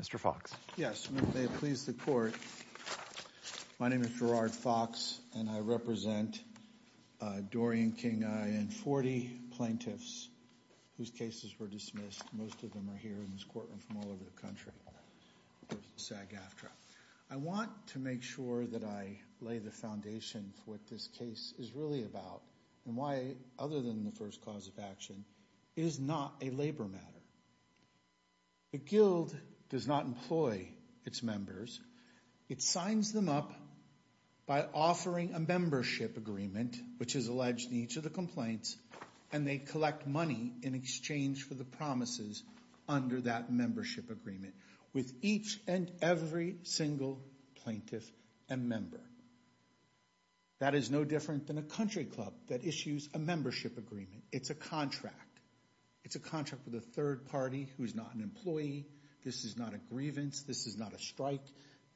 Mr. Fox. Yes, may it please the Court. My name is Gerard Fox and I represent Dorian Kingi and 40 plaintiffs whose cases were dismissed. Most of them are here in this courtroom from all over the country. I want to make sure that I lay the foundation for what this case is really about and why, other than the first cause of action, it is not a labor matter. The Guild does not employ its members. It signs them up by offering a membership agreement, which is alleged in each of the complaints, and they collect money in exchange for the promises under that membership agreement with each and every single plaintiff and member. That is no different than a country club that issues a membership agreement. It's a contract. It's a contract with a third party who is not an employee. This is not a grievance. This is not a strike.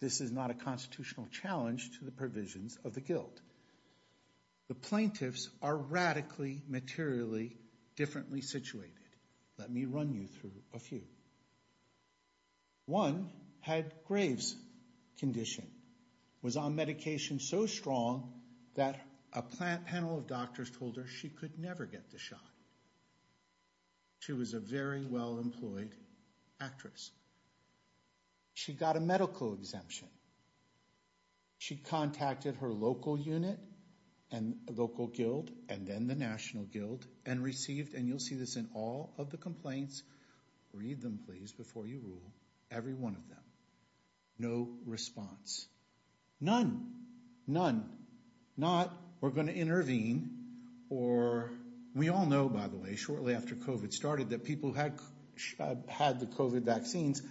This is not a constitutional challenge to the provisions of the Guild. The plaintiffs are radically materially differently situated. Let me run you through a few. One had Graves' condition, was on medication so strong that a panel of doctors told her she could never get the shot. She was a very well-employed actress. She got a medical exemption. She contacted her local unit and local Guild and then the National Guild and received, and you'll see this in all of the complaints. Read them, please, before you rule. Every one of them. No response. None. None. Not we're going to intervene or we all know, by the way, shortly after Covid started that people who had had the Covid vaccines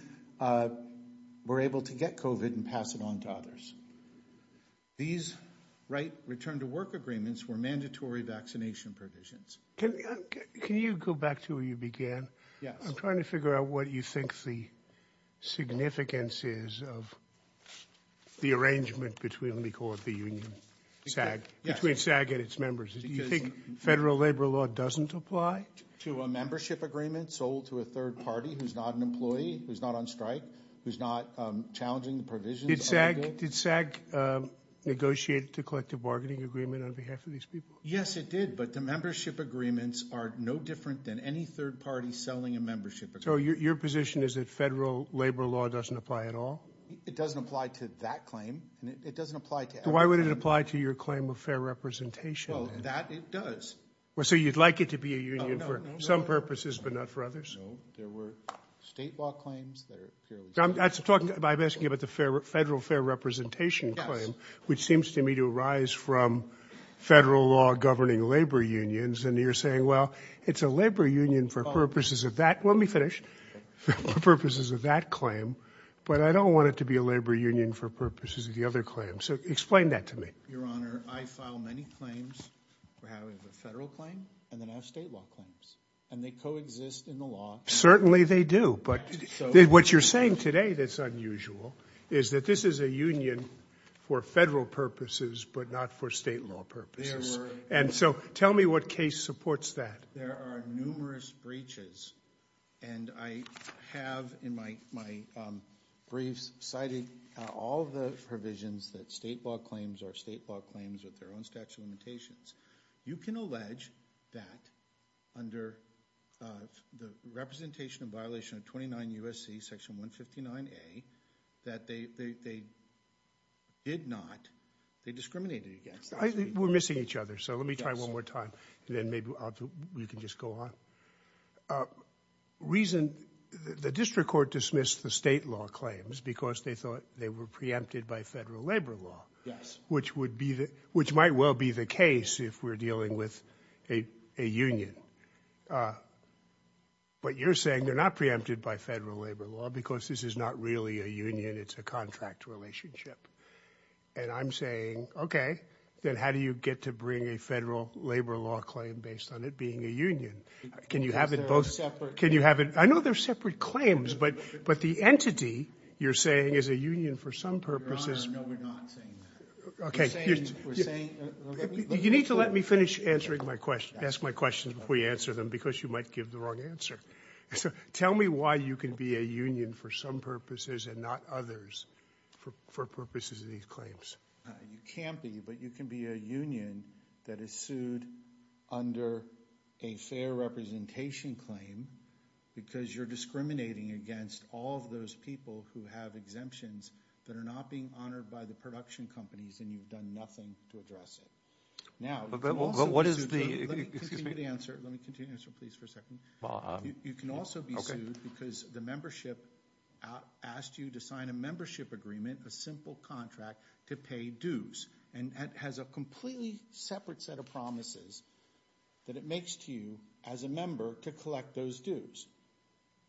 were able to get Covid and pass it on to others. These right return to work agreements were mandatory vaccination provisions. Can you go back to where you began? Yes. I'm trying to figure out what you think the significance is of the arrangement between, let me call it the union, SAG, between SAG and its members. Do you think federal labor law doesn't apply? To a membership agreement sold to a third party who's not an employee, who's not on strike, who's not challenging the provisions of the Guild. Did SAG negotiate the collective bargaining agreement on behalf of these people? Yes, it did. But the membership agreements are no different than any third party selling a membership. So your position is that federal labor law doesn't apply at all? It doesn't apply to that claim and it doesn't apply to. Why would it apply to your claim of fair representation? That it does. Well, so you'd like it to be a union for some purposes, but not for others. There were state law claims. I'm asking you about the federal fair representation claim, which seems to me to arise from federal law governing labor unions. And you're saying, well, it's a labor union for purposes of that. Let me finish. For purposes of that claim. But I don't want it to be a labor union for purposes of the other claims. So explain that to me. Your Honor, I file many claims. We have a federal claim and then I have state law claims. And they coexist in the law. Certainly they do. What you're saying today that's unusual is that this is a union for federal purposes, but not for state law purposes. And so tell me what case supports that. There are numerous breaches. And I have in my briefs cited all the provisions that state law claims are state law claims with their own statute of limitations. You can allege that under the representation of violation of 29 U.S.C. section 159A, that they did not, they discriminated against. We're missing each other. So let me try one more time. And then maybe we can just go on. The district court dismissed the state law claims because they thought they were preempted by federal labor law. Yes. Which might well be the case if we're dealing with a union. But you're saying they're not preempted by federal labor law because this is not really a union. It's a contract relationship. And I'm saying, okay, then how do you get to bring a federal labor law claim based on it being a union? Can you have it both separate? I know they're separate claims, but the entity you're saying is a union for some purposes. Your Honor, no, we're not saying that. Okay. You need to let me finish answering my question. Ask my questions before you answer them because you might give the wrong answer. Tell me why you can be a union for some purposes and not others for purposes of these claims. You can't be, but you can be a union that is sued under a fair representation claim because you're discriminating against all of those people who have exemptions that are not being honored by the production companies and you've done nothing to address it. Now, you can also be sued because the membership asked you to sign a membership agreement, a simple contract, to pay dues. And it has a completely separate set of promises that it makes to you as a member to collect those dues.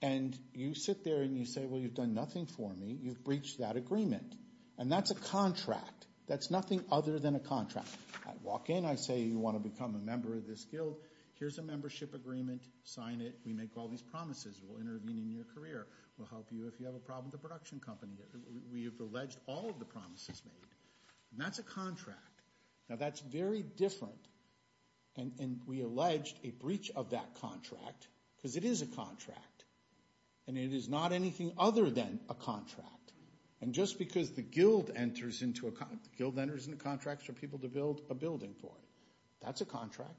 And you sit there and you say, well, you've done nothing for me. You've breached that agreement. And that's a contract. That's nothing other than a contract. I walk in. I say you want to become a member of this guild. Here's a membership agreement. Sign it. We make all these promises. We'll intervene in your career. We'll help you if you have a problem with the production company. We have alleged all of the promises made. And that's a contract. Now, that's very different. And we alleged a breach of that contract because it is a contract. And it is not anything other than a contract. And just because the guild enters into contracts for people to build a building for it, that's a contract.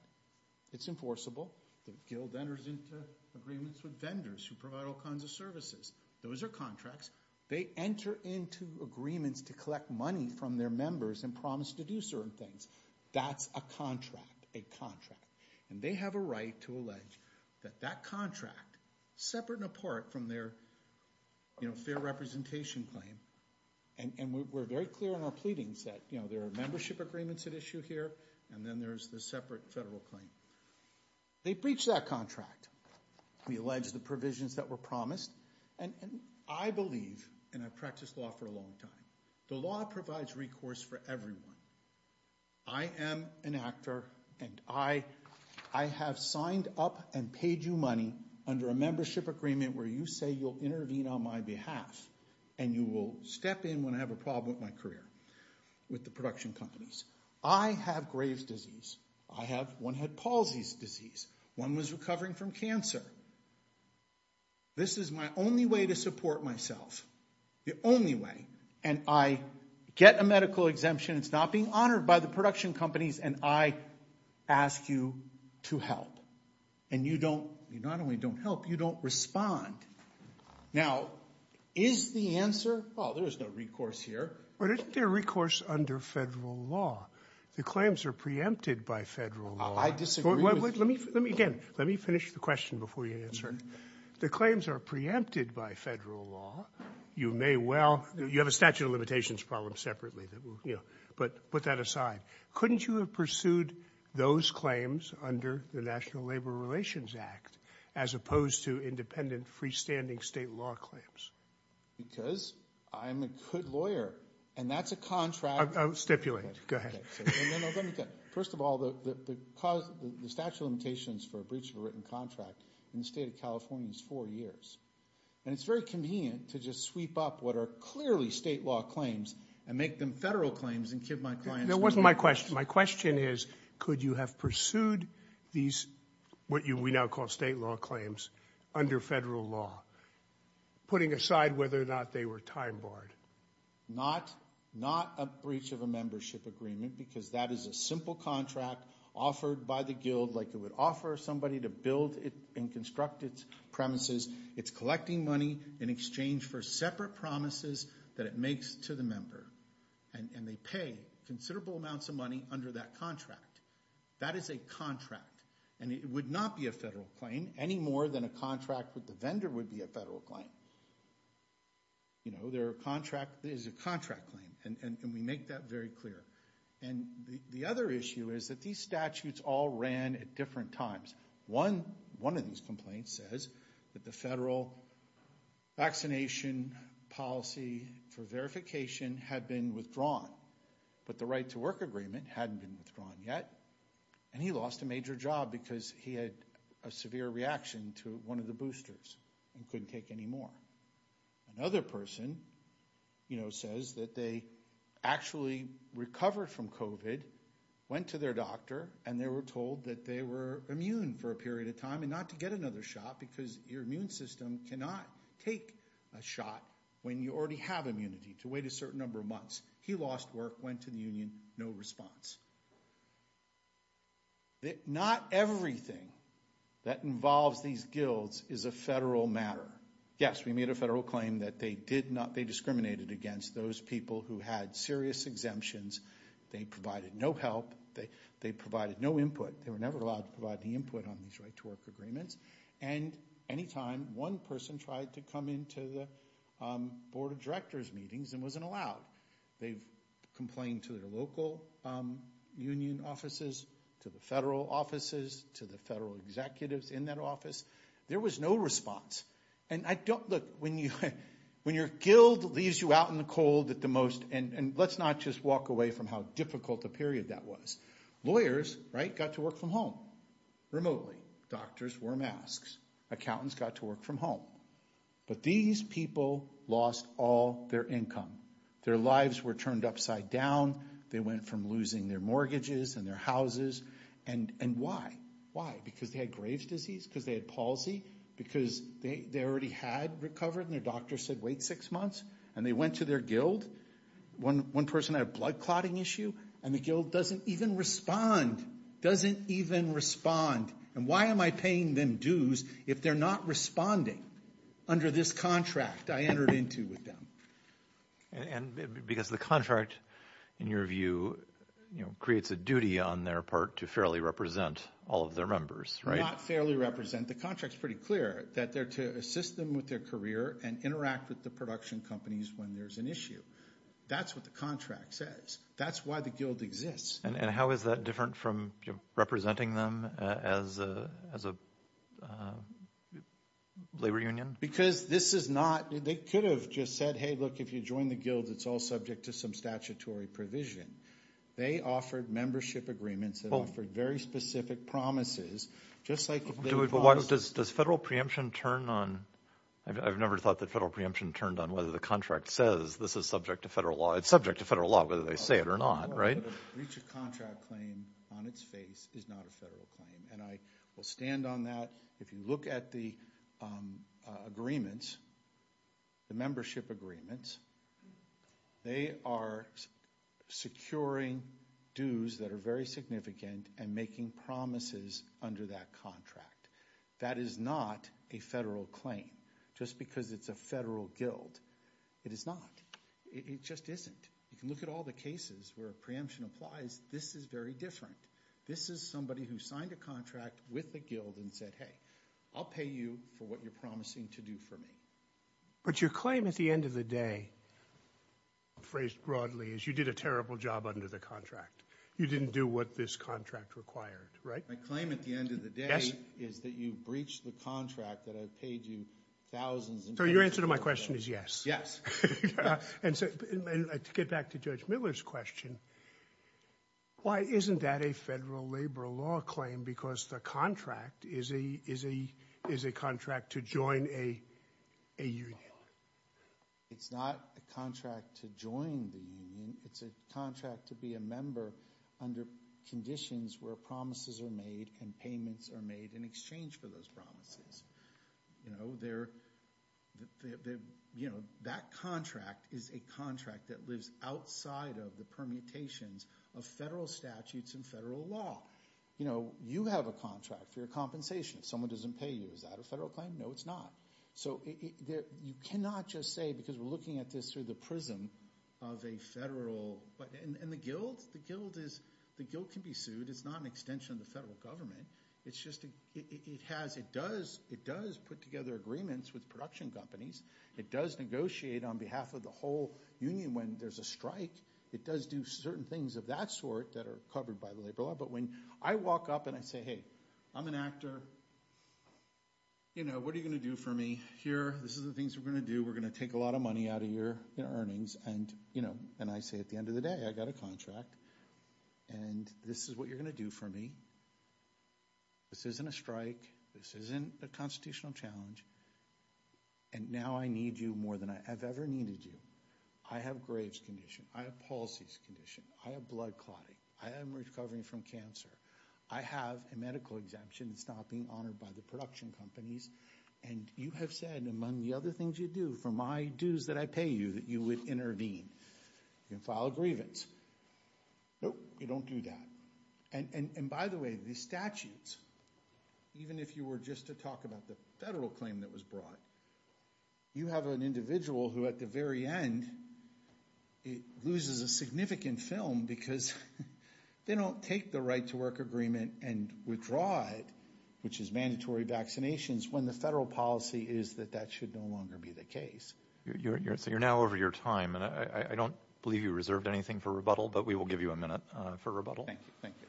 It's enforceable. The guild enters into agreements with vendors who provide all kinds of services. Those are contracts. They enter into agreements to collect money from their members and promise to do certain things. That's a contract. And they have a right to allege that that contract, separate and apart from their fair representation claim, and we're very clear in our pleadings that there are membership agreements at issue here, and then there's the separate federal claim. They breached that contract. We allege the provisions that were promised. And I believe, and I've practiced law for a long time, the law provides recourse for everyone. I am an actor, and I have signed up and paid you money under a membership agreement where you say you'll intervene on my behalf, and you will step in when I have a problem with my career with the production companies. I have Graves' disease. I have one head palsy disease. One was recovering from cancer. This is my only way to support myself. The only way. And I get a medical exemption. It's not being honored by the production companies, and I ask you to help. And you don't, you not only don't help, you don't respond. Now, is the answer, oh, there's no recourse here. But isn't there recourse under federal law? The claims are preempted by federal law. I disagree with you. Let me finish the question before you answer it. The claims are preempted by federal law. You may well, you have a statute of limitations problem separately, but put that aside. Couldn't you have pursued those claims under the National Labor Relations Act as opposed to independent freestanding state law claims? Because I'm a good lawyer, and that's a contract. Stipulate. Go ahead. First of all, the statute of limitations for a breach of a written contract in the state of California is four years. And it's very convenient to just sweep up what are clearly state law claims and make them federal claims and give my clients free access. That wasn't my question. My question is, could you have pursued these, what we now call state law claims, under federal law, putting aside whether or not they were time barred? Not a breach of a membership agreement, because that is a simple contract offered by the guild like it would offer somebody to build and construct its premises. It's collecting money in exchange for separate promises that it makes to the member. And they pay considerable amounts of money under that contract. That is a contract. And it would not be a federal claim, any more than a contract with the vendor would be a federal claim. You know, there is a contract claim, and we make that very clear. And the other issue is that these statutes all ran at different times. One of these complaints says that the federal vaccination policy for verification had been withdrawn, but the right to work agreement hadn't been withdrawn yet, and he lost a major job because he had a severe reaction to one of the boosters and couldn't take any more. Another person says that they actually recovered from COVID, went to their doctor, and they were told that they were immune for a period of time and not to get another shot because your immune system cannot take a shot when you already have immunity to wait a certain number of months. He lost work, went to the union, no response. Not everything that involves these guilds is a federal matter. Yes, we made a federal claim that they discriminated against those people who had serious exemptions. They provided no help. They provided no input. They were never allowed to provide any input on these right to work agreements. And any time one person tried to come into the board of directors meetings and wasn't allowed, they complained to their local union offices, to the federal offices, to the federal executives in that office. There was no response. And look, when your guild leaves you out in the cold at the most, and let's not just walk away from how difficult a period that was, lawyers got to work from home remotely. Doctors wore masks. Accountants got to work from home. But these people lost all their income. Their lives were turned upside down. They went from losing their mortgages and their houses. And why? Why? Because they had Graves' disease? Because they had palsy? Because they already had recovered and their doctor said wait six months? And they went to their guild? One person had a blood clotting issue and the guild doesn't even respond. Doesn't even respond. And why am I paying them dues if they're not responding under this contract I entered into with them? Because the contract, in your view, creates a duty on their part to fairly represent all of their members, right? Not fairly represent. The contract's pretty clear, that they're to assist them with their career and interact with the production companies when there's an issue. That's what the contract says. That's why the guild exists. And how is that different from representing them as a labor union? Because this is not, they could have just said, hey look, if you join the guild, it's all subject to some statutory provision. They offered membership agreements and offered very specific promises. Does federal preemption turn on, I've never thought that federal preemption turned on whether the contract says this is subject to federal law. It's subject to federal law whether they say it or not, right? A breach of contract claim on its face is not a federal claim. And I will stand on that. If you look at the agreements, the membership agreements, they are securing dues that are very significant and making promises under that contract. That is not a federal claim. Just because it's a federal guild, it is not. It just isn't. You can look at all the cases where preemption applies. This is very different. This is somebody who signed a contract with the guild and said, hey, I'll pay you for what you're promising to do for me. But your claim at the end of the day, phrased broadly, is you did a terrible job under the contract. You didn't do what this contract required, right? My claim at the end of the day is that you breached the contract that I paid you thousands and thousands of dollars for. So your answer to my question is yes. And to get back to Judge Miller's question, why isn't that a federal labor law claim? Because the contract is a contract to join a union. It's not a contract to join the union. It's a contract to be a member under conditions where promises are made and payments are made in exchange for those promises. That contract is a contract that lives outside of the permutations of federal statutes and federal law. You have a contract for your compensation. If someone doesn't pay you, is that a federal claim? No, it's not. So you cannot just say, because we're looking at this through the prism of a federal. And the guild can be sued. It's not an extension of the federal government. It does put together agreements with production companies. It does negotiate on behalf of the whole union when there's a strike. It does do certain things of that sort that are covered by the labor law. But when I walk up and I say, hey, I'm an actor. What are you going to do for me? Here, this is the things we're going to do. We're going to take a lot of money out of your earnings. And I say at the end of the day, I got a contract. And this is what you're going to do for me. This isn't a strike. This isn't a constitutional challenge. And now I need you more than I have ever needed you. I have graves condition. I have palsies condition. I have blood clotting. I am recovering from cancer. I have a medical exemption. It's not being honored by the production companies. And you have said among the other things you do for my dues that I pay you, that you would intervene and file a grievance. Nope, you don't do that. And by the way, the statutes, even if you were just to talk about the federal claim that was brought, you have an individual who at the very end loses a significant film because they don't take the right to work agreement and withdraw it, which is mandatory vaccinations, when the federal policy is that that should no longer be the case. So you're now over your time. And I don't believe you reserved anything for rebuttal, but we will give you a minute for rebuttal. Thank you. Thank you.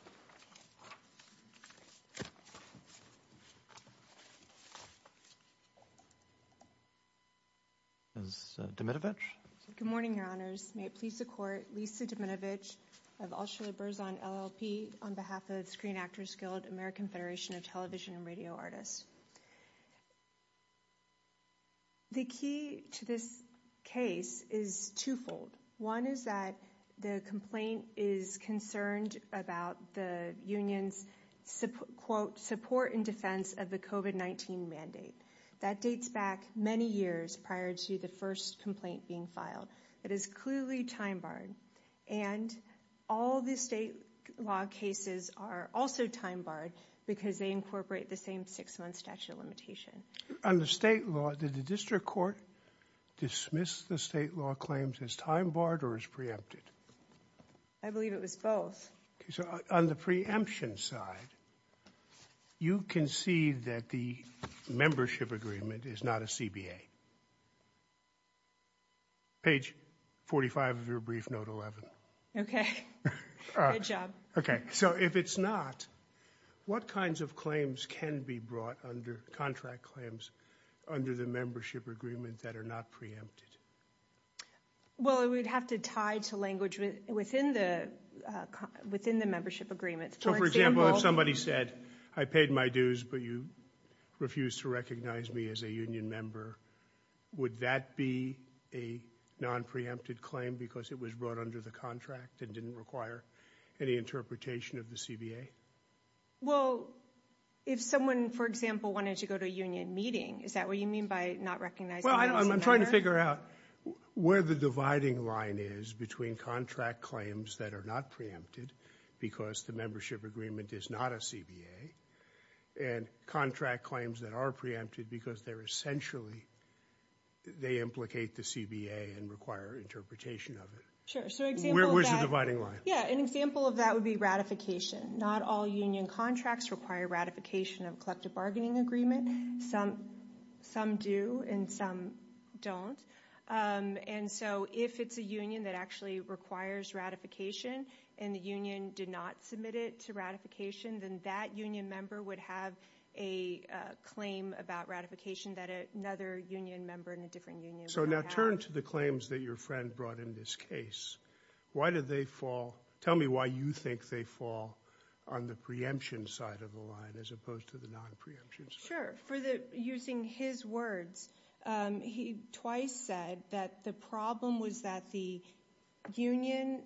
Good morning, your honors. May it please the court. Lisa Domenovitch. I've also the birds on LLP on behalf of screen actors, skilled American federation of television and radio artists. The key to this case is twofold. One is that the complaint is concerned about the unions support, quote support and defense of the COVID-19 mandate that dates back many years prior to the first complaint being filed. It is clearly time-barred and all the state law cases are also time-barred because they incorporate the same six months statute of limitation on the state law. Did the district court dismiss the state law claims as time barred or as preempted? I believe it was both. So on the preemption side, you can see that the membership agreement is not a CBA. Page 45 of your brief note 11. Okay. Good job. Okay. So if it's not, what kinds of claims can be brought under contract claims under the membership agreement that are not preempted? Well, we'd have to tie to language within the within the membership agreement. So for example, if somebody said I paid my dues, but you refuse to recognize me as a union member, would that be a non preempted claim because it was brought under the contract and didn't require any interpretation of the CBA? Well, if someone, for example, wanted to go to a union meeting, is that what you mean by not recognizing? I'm trying to figure out where the dividing line is between contract claims that are not preempted because the membership agreement is not a CBA and contract claims that are preempted because they're essentially, they implicate the CBA and require interpretation of it. Sure. So where's the dividing line? Yeah. An example of that would be ratification. Not all union contracts require ratification of collective bargaining agreement. Some, some do and some don't. And so if it's a union that actually requires ratification and the union did not submit it to ratification, then that union member would have a claim about ratification that another union member in a different union. So now turn to the claims that your friend brought in this case. Why did they fall? Tell me why you think they fall on the preemption side of the line as opposed to the non-preemption side. Sure. For the, using his words, he twice said that the problem was that the union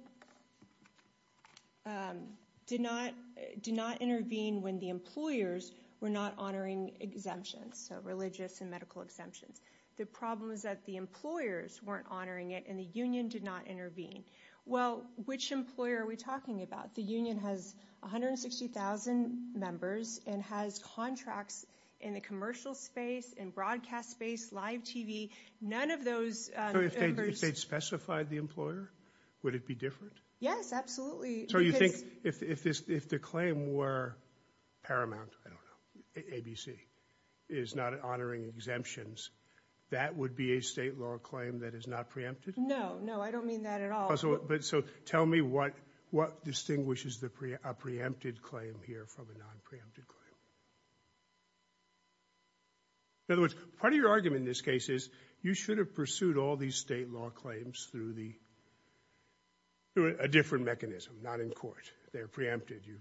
did not, did not intervene when the employers were not honoring exemptions. So religious and medical exemptions. The problem is that the employers weren't honoring it and the union did not intervene. Well, which employer are we talking about? The union has 160,000 members and has contracts in the commercial space and broadcast space, live TV. None of those. They'd specified the employer. Would it be different? Yes, absolutely. So you think if, if this, if the claim were paramount, I don't know. ABC is not honoring exemptions. That would be a state law claim that is not preempted. No, no, I don't mean that at all. So, but so tell me what, what distinguishes the pre a preempted claim here from a non preempted claim. In other words, part of your argument in this case is you should have pursued all these state law claims through the, through a different mechanism, not in court. They're preempted. You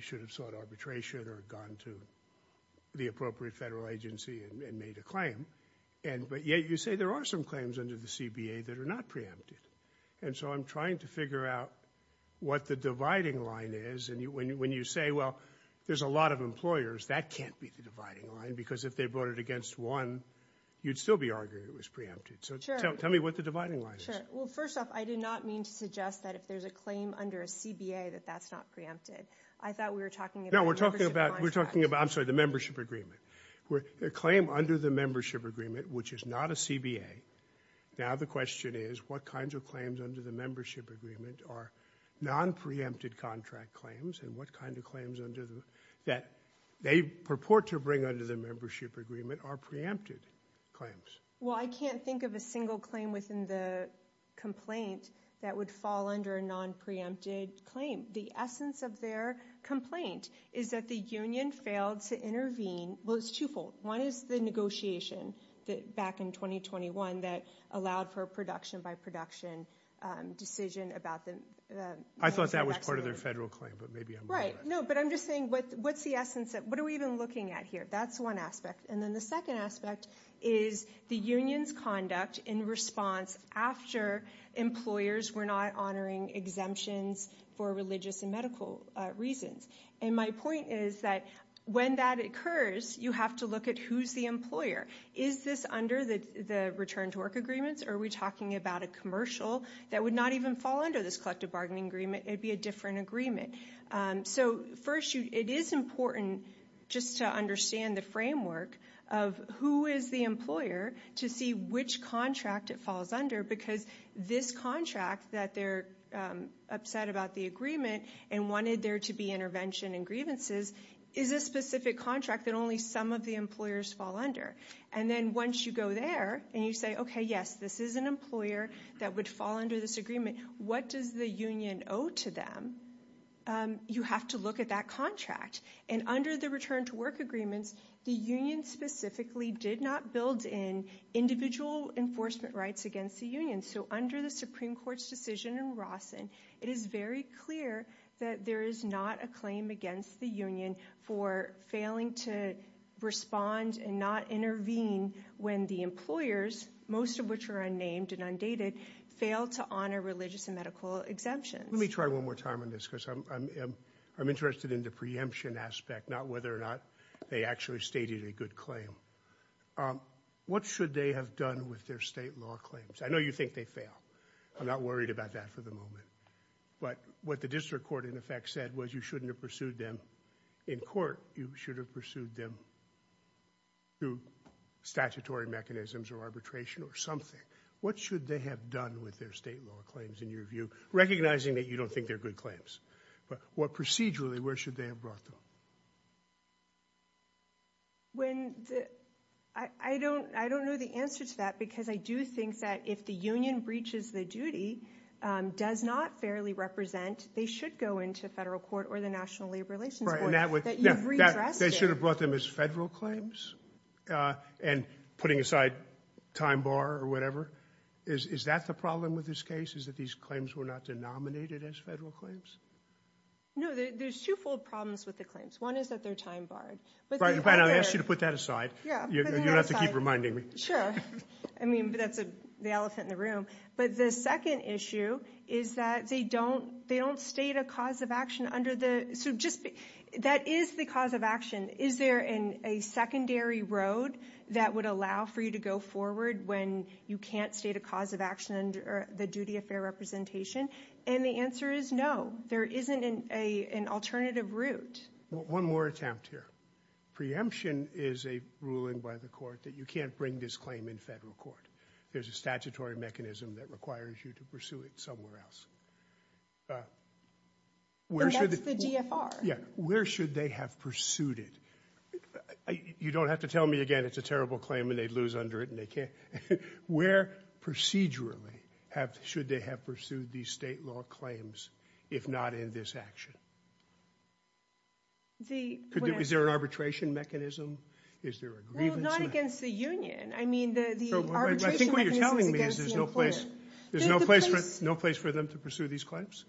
should have sought arbitration or gone to the appropriate federal agency and made a claim. but yet you say there are some claims under the CBA that are not preempted. And so I'm trying to figure out what the dividing line is. And you, when you, when you say, well, there's a lot of employers that can't be the dividing line because if they voted against one, you'd still be arguing it was preempted. So tell me what the dividing line is. Well, first off, I did not mean to suggest that if there's a claim under a CBA, that that's not preempted. I thought we were talking about, we're talking about, we're talking about, I'm sorry, under the membership agreement where their claim under the membership agreement, which is not a CBA. Now, the question is what kinds of claims under the membership agreement are non preempted contract claims and what kind of claims under the, that they purport to bring under the membership agreement are preempted claims. Well, I can't think of a single claim within the complaint that would fall under a non preempted claim. The essence of their complaint is that the union failed to intervene. it's twofold. One is the negotiation that back in 2021, that allowed for a production by production decision about the, I thought that was part of their federal claim, but maybe I'm right. No, but I'm just saying what, what's the essence of, what are we even looking at here? That's one aspect. And then the second aspect is the union's conduct in response. After employers were not honoring exemptions for religious and medical reasons. And my point is that when that occurs, you have to look at who's the employer. Is this under the, the return to work agreements, or are we talking about a commercial that would not even fall under this collective bargaining agreement? It'd be a different agreement. So first you, it is important just to understand the framework of who is the employer to see which contract it falls under, because this contract that they're upset about the agreement and wanted there to be intervention and grievances is a specific contract that only some of the employers fall under. And then once you go there and you say, okay, yes, this is an employer that would fall under this agreement. What does the union owe to them? You have to look at that contract and under the return to work agreements, the union specifically did not build in individual enforcement rights against the union. So under the Supreme court's decision in Rawson, it is very clear that there is not a claim against the union for failing to respond and not intervene when the employers, most of which are unnamed and undated fail to honor religious and medical exemptions. Let me try one more time on this because I'm, I'm interested in the preemption aspect, not whether or not they actually stated a good claim. What should they have done with their state law claims? I know you think they fail. I'm not worried about that for the moment, but what the district court in effect said was you shouldn't have pursued them in court. You should have pursued them through statutory mechanisms or arbitration or something. What should they have done with their state law claims in your view, recognizing that you don't think they're good claims, but what procedurally, where should they have brought them? When the, I don't, I don't know the answer to that because I do think that if the union breaches the duty, um, does not fairly represent, they should go into federal court or the national labor relations. They should have brought them as federal claims, uh, and putting aside time bar or whatever is, is that the problem with this case is that these claims were not denominated as federal claims. No, there's two fold problems with the claims. One is that they're time barred, but I asked you to put that aside. You don't have to keep reminding me. Sure. I mean, that's the elephant in the room, but the second issue is that they don't, they don't state a cause of action under the, so just that is the cause of action. Is there in a secondary road that would allow for you to go forward when you can't state a cause of action or the duty of fair representation? And the answer is no. There isn't an, a, an alternative route. Well, one more attempt here. Preemption is a ruling by the court that you can't bring this claim in federal court. There's a statutory mechanism that requires you to pursue it somewhere else. Uh, where should the GFR? Yeah. Where should they have pursued it? You don't have to tell me again, it's a terrible claim and they'd lose under it and they can't, where procedurally have, should they have pursued these state law claims? If not in this action, the, is there an arbitration mechanism? Is there a grievance? Not against the union. I mean, the, I think what you're telling me is there's no place. There's no place for us, no place for them to pursue these claims.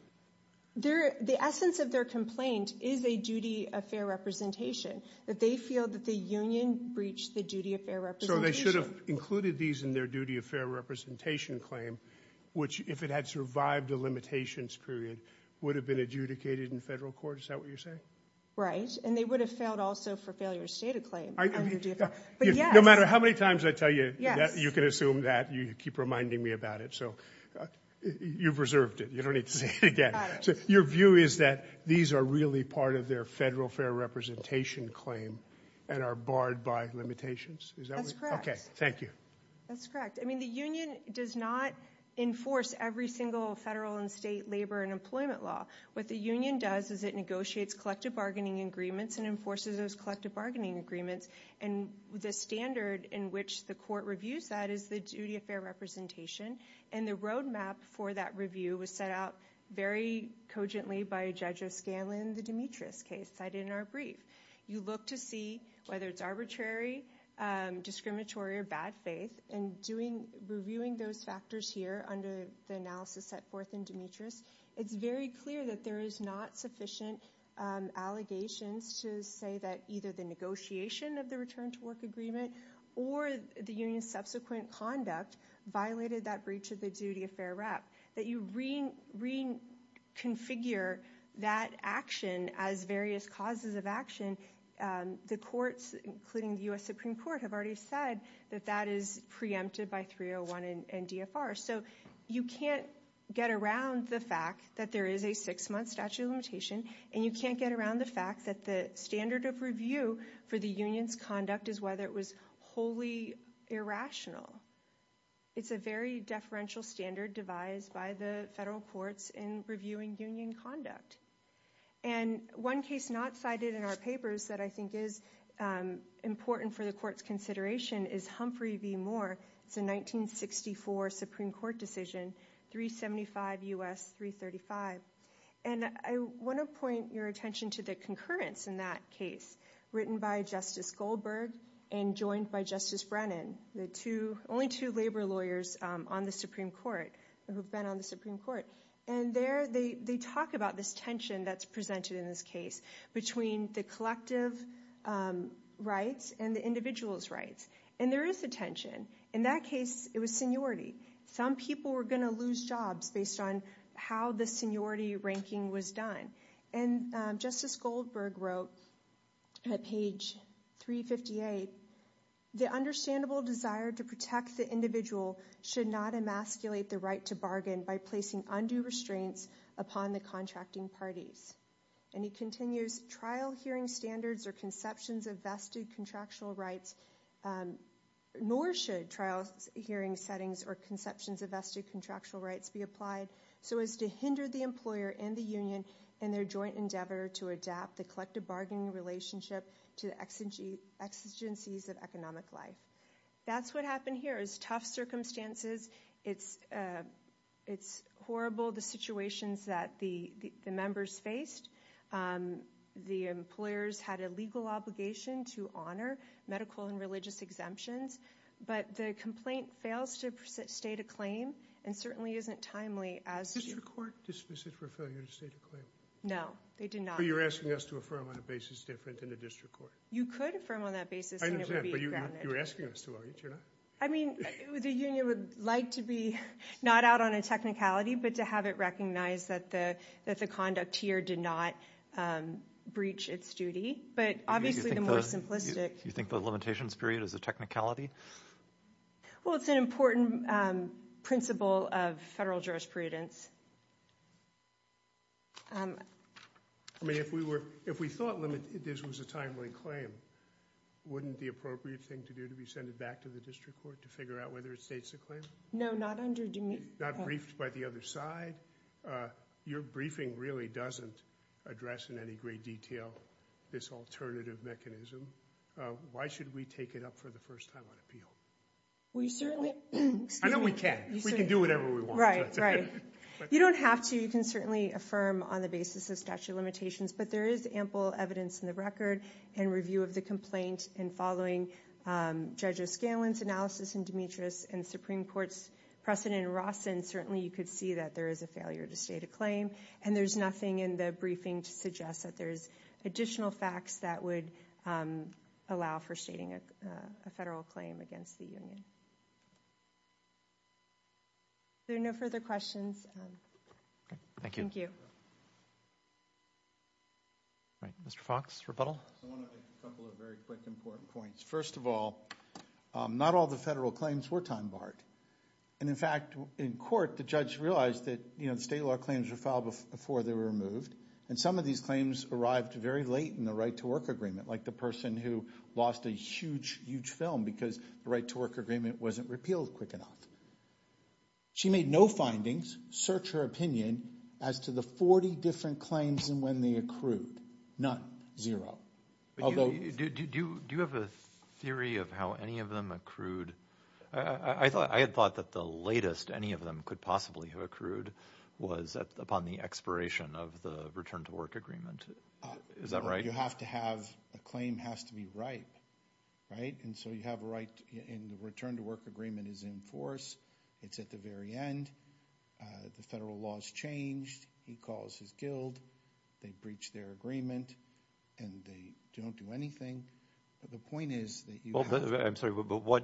There, the essence of their complaint is a duty of fair representation that they feel that the union breached the duty of fair representation. They should have included these in their duty of fair representation claim, which if it had survived the limitations period would have been adjudicated in federal court. Is that what you're saying? Right. And they would have failed also for failure to state a claim. No matter how many times I tell you that you can assume that you keep reminding me about it. So you've reserved it. You don't need to say it again. So your view is that these are really part of their federal fair representation claim and are barred by limitations. Okay. Thank you. That's correct. I mean, the union does not enforce every single federal and state labor and employment law. What the union does is it negotiates collective bargaining agreements and enforces those collective bargaining agreements. And the standard in which the court reviews that is the duty of fair representation. And the roadmap for that review was set out very cogently by a judge of Scanlon, the Demetrius case cited in our brief, you look to see whether it's arbitrary, discriminatory or bad faith and doing reviewing those factors here under the analysis set forth in Demetrius. It's very clear that there is not sufficient allegations to say that either the negotiation of the return to work agreement or the union's subsequent conduct violated that breach of the duty of fair rep, that you reconfigure that action as various causes of action. And the courts, including the U.S. Supreme court, have already said that that is preempted by 301 and DFR. So you can't get around the fact that there is a six month statute of limitation and you can't get around the fact that the standard of review for the union's conduct is whether it was wholly irrational. It's a very deferential standard devised by the federal courts in reviewing union conduct. And one case not cited in our papers that I think is important for the court's consideration is Humphrey v. Moore. It's a 1964 Supreme court decision, 375 U.S. 335. And I want to point your attention to the concurrence in that case written by Justice Goldberg and joined by Justice Brennan, the only two labor lawyers on the Supreme court who've been on the Supreme court. And there they talk about this tension that's presented in this case between the collective rights and the individual's rights. And there is a tension. In that case, it was seniority. Some people were going to lose jobs based on how the seniority ranking was done. And Justice Goldberg wrote at page 358, the understandable desire to protect the individual should not emasculate the right to bargain by placing undue restraints upon the contracting parties. And he continues trial hearing standards or conceptions of vested contractual rights, nor should trials hearing settings or conceptions of vested contractual rights be applied. So as to hinder the employer and the union and their joint endeavor to adapt the collective bargaining relationship to the exigencies of economic life. That's what happened here is tough circumstances. It's it's horrible. The situations that the, the, the members faced, the employers had a legal obligation to honor medical and religious exemptions, but the complaint fails to state a claim and certainly isn't timely as court dismisses for failure to state a claim. No, they did not. You're asking us to affirm on a basis different than the district court. You could affirm on that basis. You were asking us to. I mean, the union would like to be not out on a technicality, but to have it recognized that the, that the conduct here did not breach its duty. But obviously the more simplistic, you think the limitations period is a technicality. Well, it's an important principle of federal jurisprudence. I mean, if we were, if we thought this was a timely claim, wouldn't the appropriate thing to do to be sent it back to the district court to figure out whether it states a claim? No, not under, not briefed by the other side. Your briefing really doesn't address in any great detail this alternative mechanism. Why should we take it up for the first time on appeal? We certainly, I know we can, we can do whatever we want. Right. You don't have to. You can certainly affirm on the basis of statute of limitations, but there is ample evidence in the record and review of the complaint. And following Judge O'Scallion's analysis and Demetrius and Supreme Court's precedent in Rawson, certainly you could see that there is a failure to state a claim. And there's nothing in the briefing to suggest that there's additional facts that would allow for stating a federal claim against the union. Are there no further questions? Thank you. All right. Mr. Fox, rebuttal. I want to make a couple of very quick important points. First of all, not all the federal claims were time barred. And in fact, in court, the judge realized that, you know, state law claims were filed before they were removed. And some of these claims arrived very late in the right to work agreement, like the person who lost a huge, huge film because the right to work agreement wasn't repealed quick enough. She made no findings, search her opinion, as to the 40 different claims and when they accrued. None. Do you have a theory of how any of them accrued? I had thought that the latest any of them could possibly have accrued was upon the expiration of the return to work agreement. Is that right? You have to have a claim has to be right. Right? And so you have a right in the return to work agreement is in force. It's at the very end. The federal laws changed. He calls his guild. They breached their agreement. And they don't do anything. But the point is that you. I'm sorry, but what.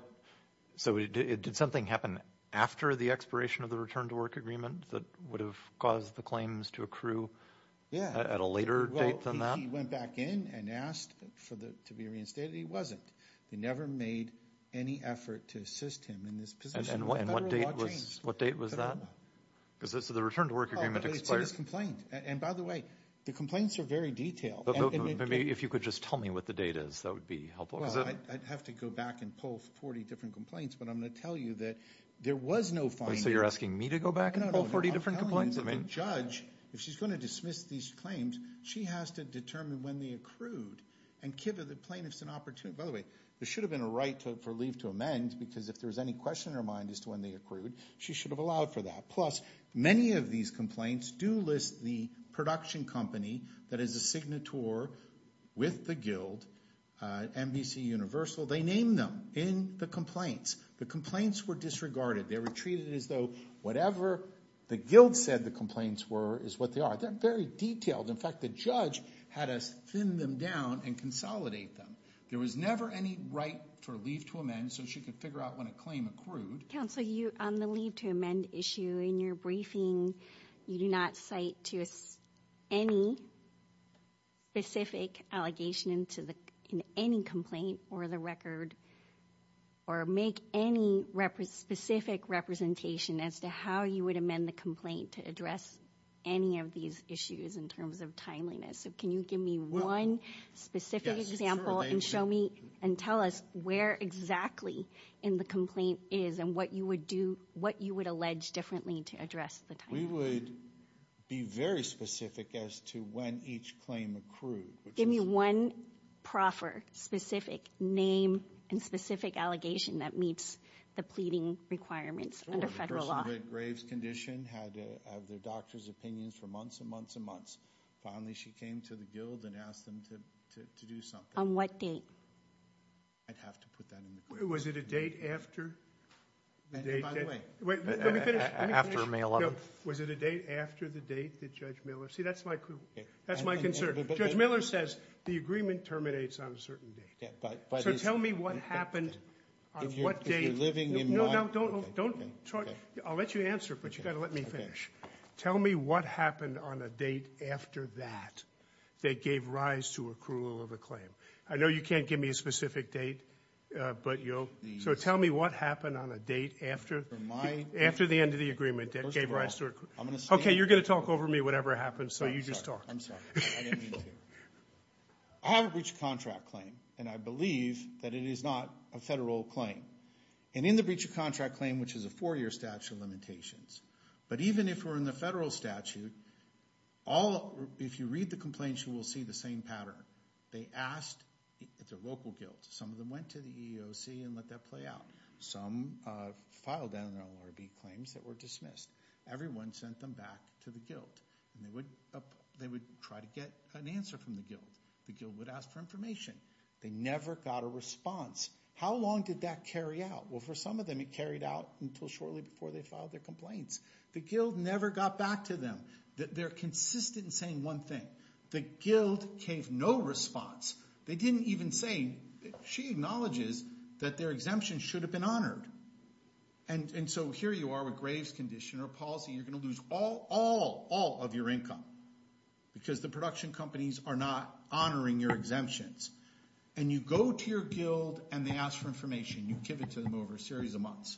So it did something happen after the expiration of the return to work agreement that would have caused the claims to accrue. Yeah. At a later date than that. He went back in and asked for the to be reinstated. He wasn't. They never made any effort to assist him in this position. And what date was what date was that? Because this is the return to work agreement expires complaint. And by the way, the complaints are very detailed. If you could just tell me what the data is, that would be helpful. I'd have to go back and pull 40 different complaints. But I'm going to tell you that there was no fun. So you're asking me to go back and pull 40 different complaints. I mean, judge. If she's going to dismiss these claims, she has to determine when they accrued And give the plaintiffs an opportunity. By the way, there should have been a right for leave to amend. Because if there was any question in her mind as to when they accrued, she should have allowed for that. Plus many of these complaints do list the production company. That is a signatory with the guild NBC universal. They named them in the complaints. The complaints were disregarded. They were treated as though whatever the guild said, the complaints were, is what they are. They're very detailed. In fact, the judge had us thin them down and consolidate them. There was never any right for leave to amend, so she could figure out when a claim accrued. Counsel, on the leave to amend issue, in your briefing, you do not cite to any specific allegation in any complaint or the record, or make any specific representation as to how you would amend the complaint to address any of these issues in terms of timeliness. Can you give me one specific example and tell us where exactly in the complaint is and what you would allege differently to address the timeliness? We would be very specific as to when each claim accrued. Give me one proper, specific name and specific allegation that meets the pleading requirements under federal law. The person with Graves' condition had their doctor's opinions for months and months and months. Finally, she came to the guild and asked them to do something. On what date? I'd have to put that in the question. Was it a date after? By the way, let me finish. Was it a date after the date that Judge Miller? See, that's my concern. Judge Miller says the agreement terminates on a certain date. So tell me what happened on what date. You're living in my opinion. I'll let you answer, but you've got to let me finish. Tell me what happened on a date after that that gave rise to accrual of a claim. I know you can't give me a specific date. So tell me what happened on a date after the end of the agreement that gave rise to accrual. Okay, you're going to talk over me whatever happens, so you just talk. I'm sorry. I didn't mean to. I have a breach of contract claim, and I believe that it is not a federal claim. And in the breach of contract claim, which is a four-year statute of limitations, but even if we're in the federal statute, if you read the complaint, you will see the same pattern. They asked at the local guild. Some of them went to the EEOC and let that play out. Some filed down their LRB claims that were dismissed. Everyone sent them back to the guild, and they would try to get an answer from the guild. The guild would ask for information. They never got a response. How long did that carry out? Well, for some of them, it carried out until shortly before they filed their complaints. The guild never got back to them. They're consistent in saying one thing. The guild gave no response. They didn't even say she acknowledges that their exemption should have been honored. And so here you are with Graves condition or a policy. You're going to lose all, all, all of your income because the production companies are not honoring your exemptions. And you go to your guild, and they ask for information. You give it to them over a series of months.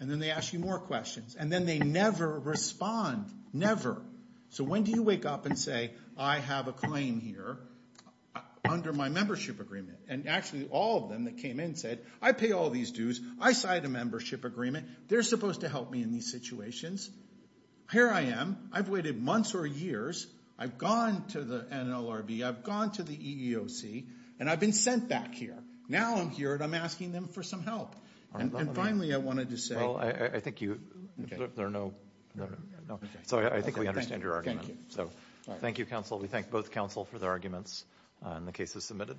And then they ask you more questions, and then they never respond, never. So when do you wake up and say, I have a claim here under my membership agreement? And actually all of them that came in said, I pay all these dues. I signed a membership agreement. They're supposed to help me in these situations. Here I am. I've waited months or years. I've gone to the NLRB. I've gone to the EEOC. And I've been sent back here. Now I'm here, and I'm asking them for some help. And finally I wanted to say. Well, I think you. There are no. So I think we understand your argument. So thank you, counsel. We thank both counsel for their arguments and the cases submitted.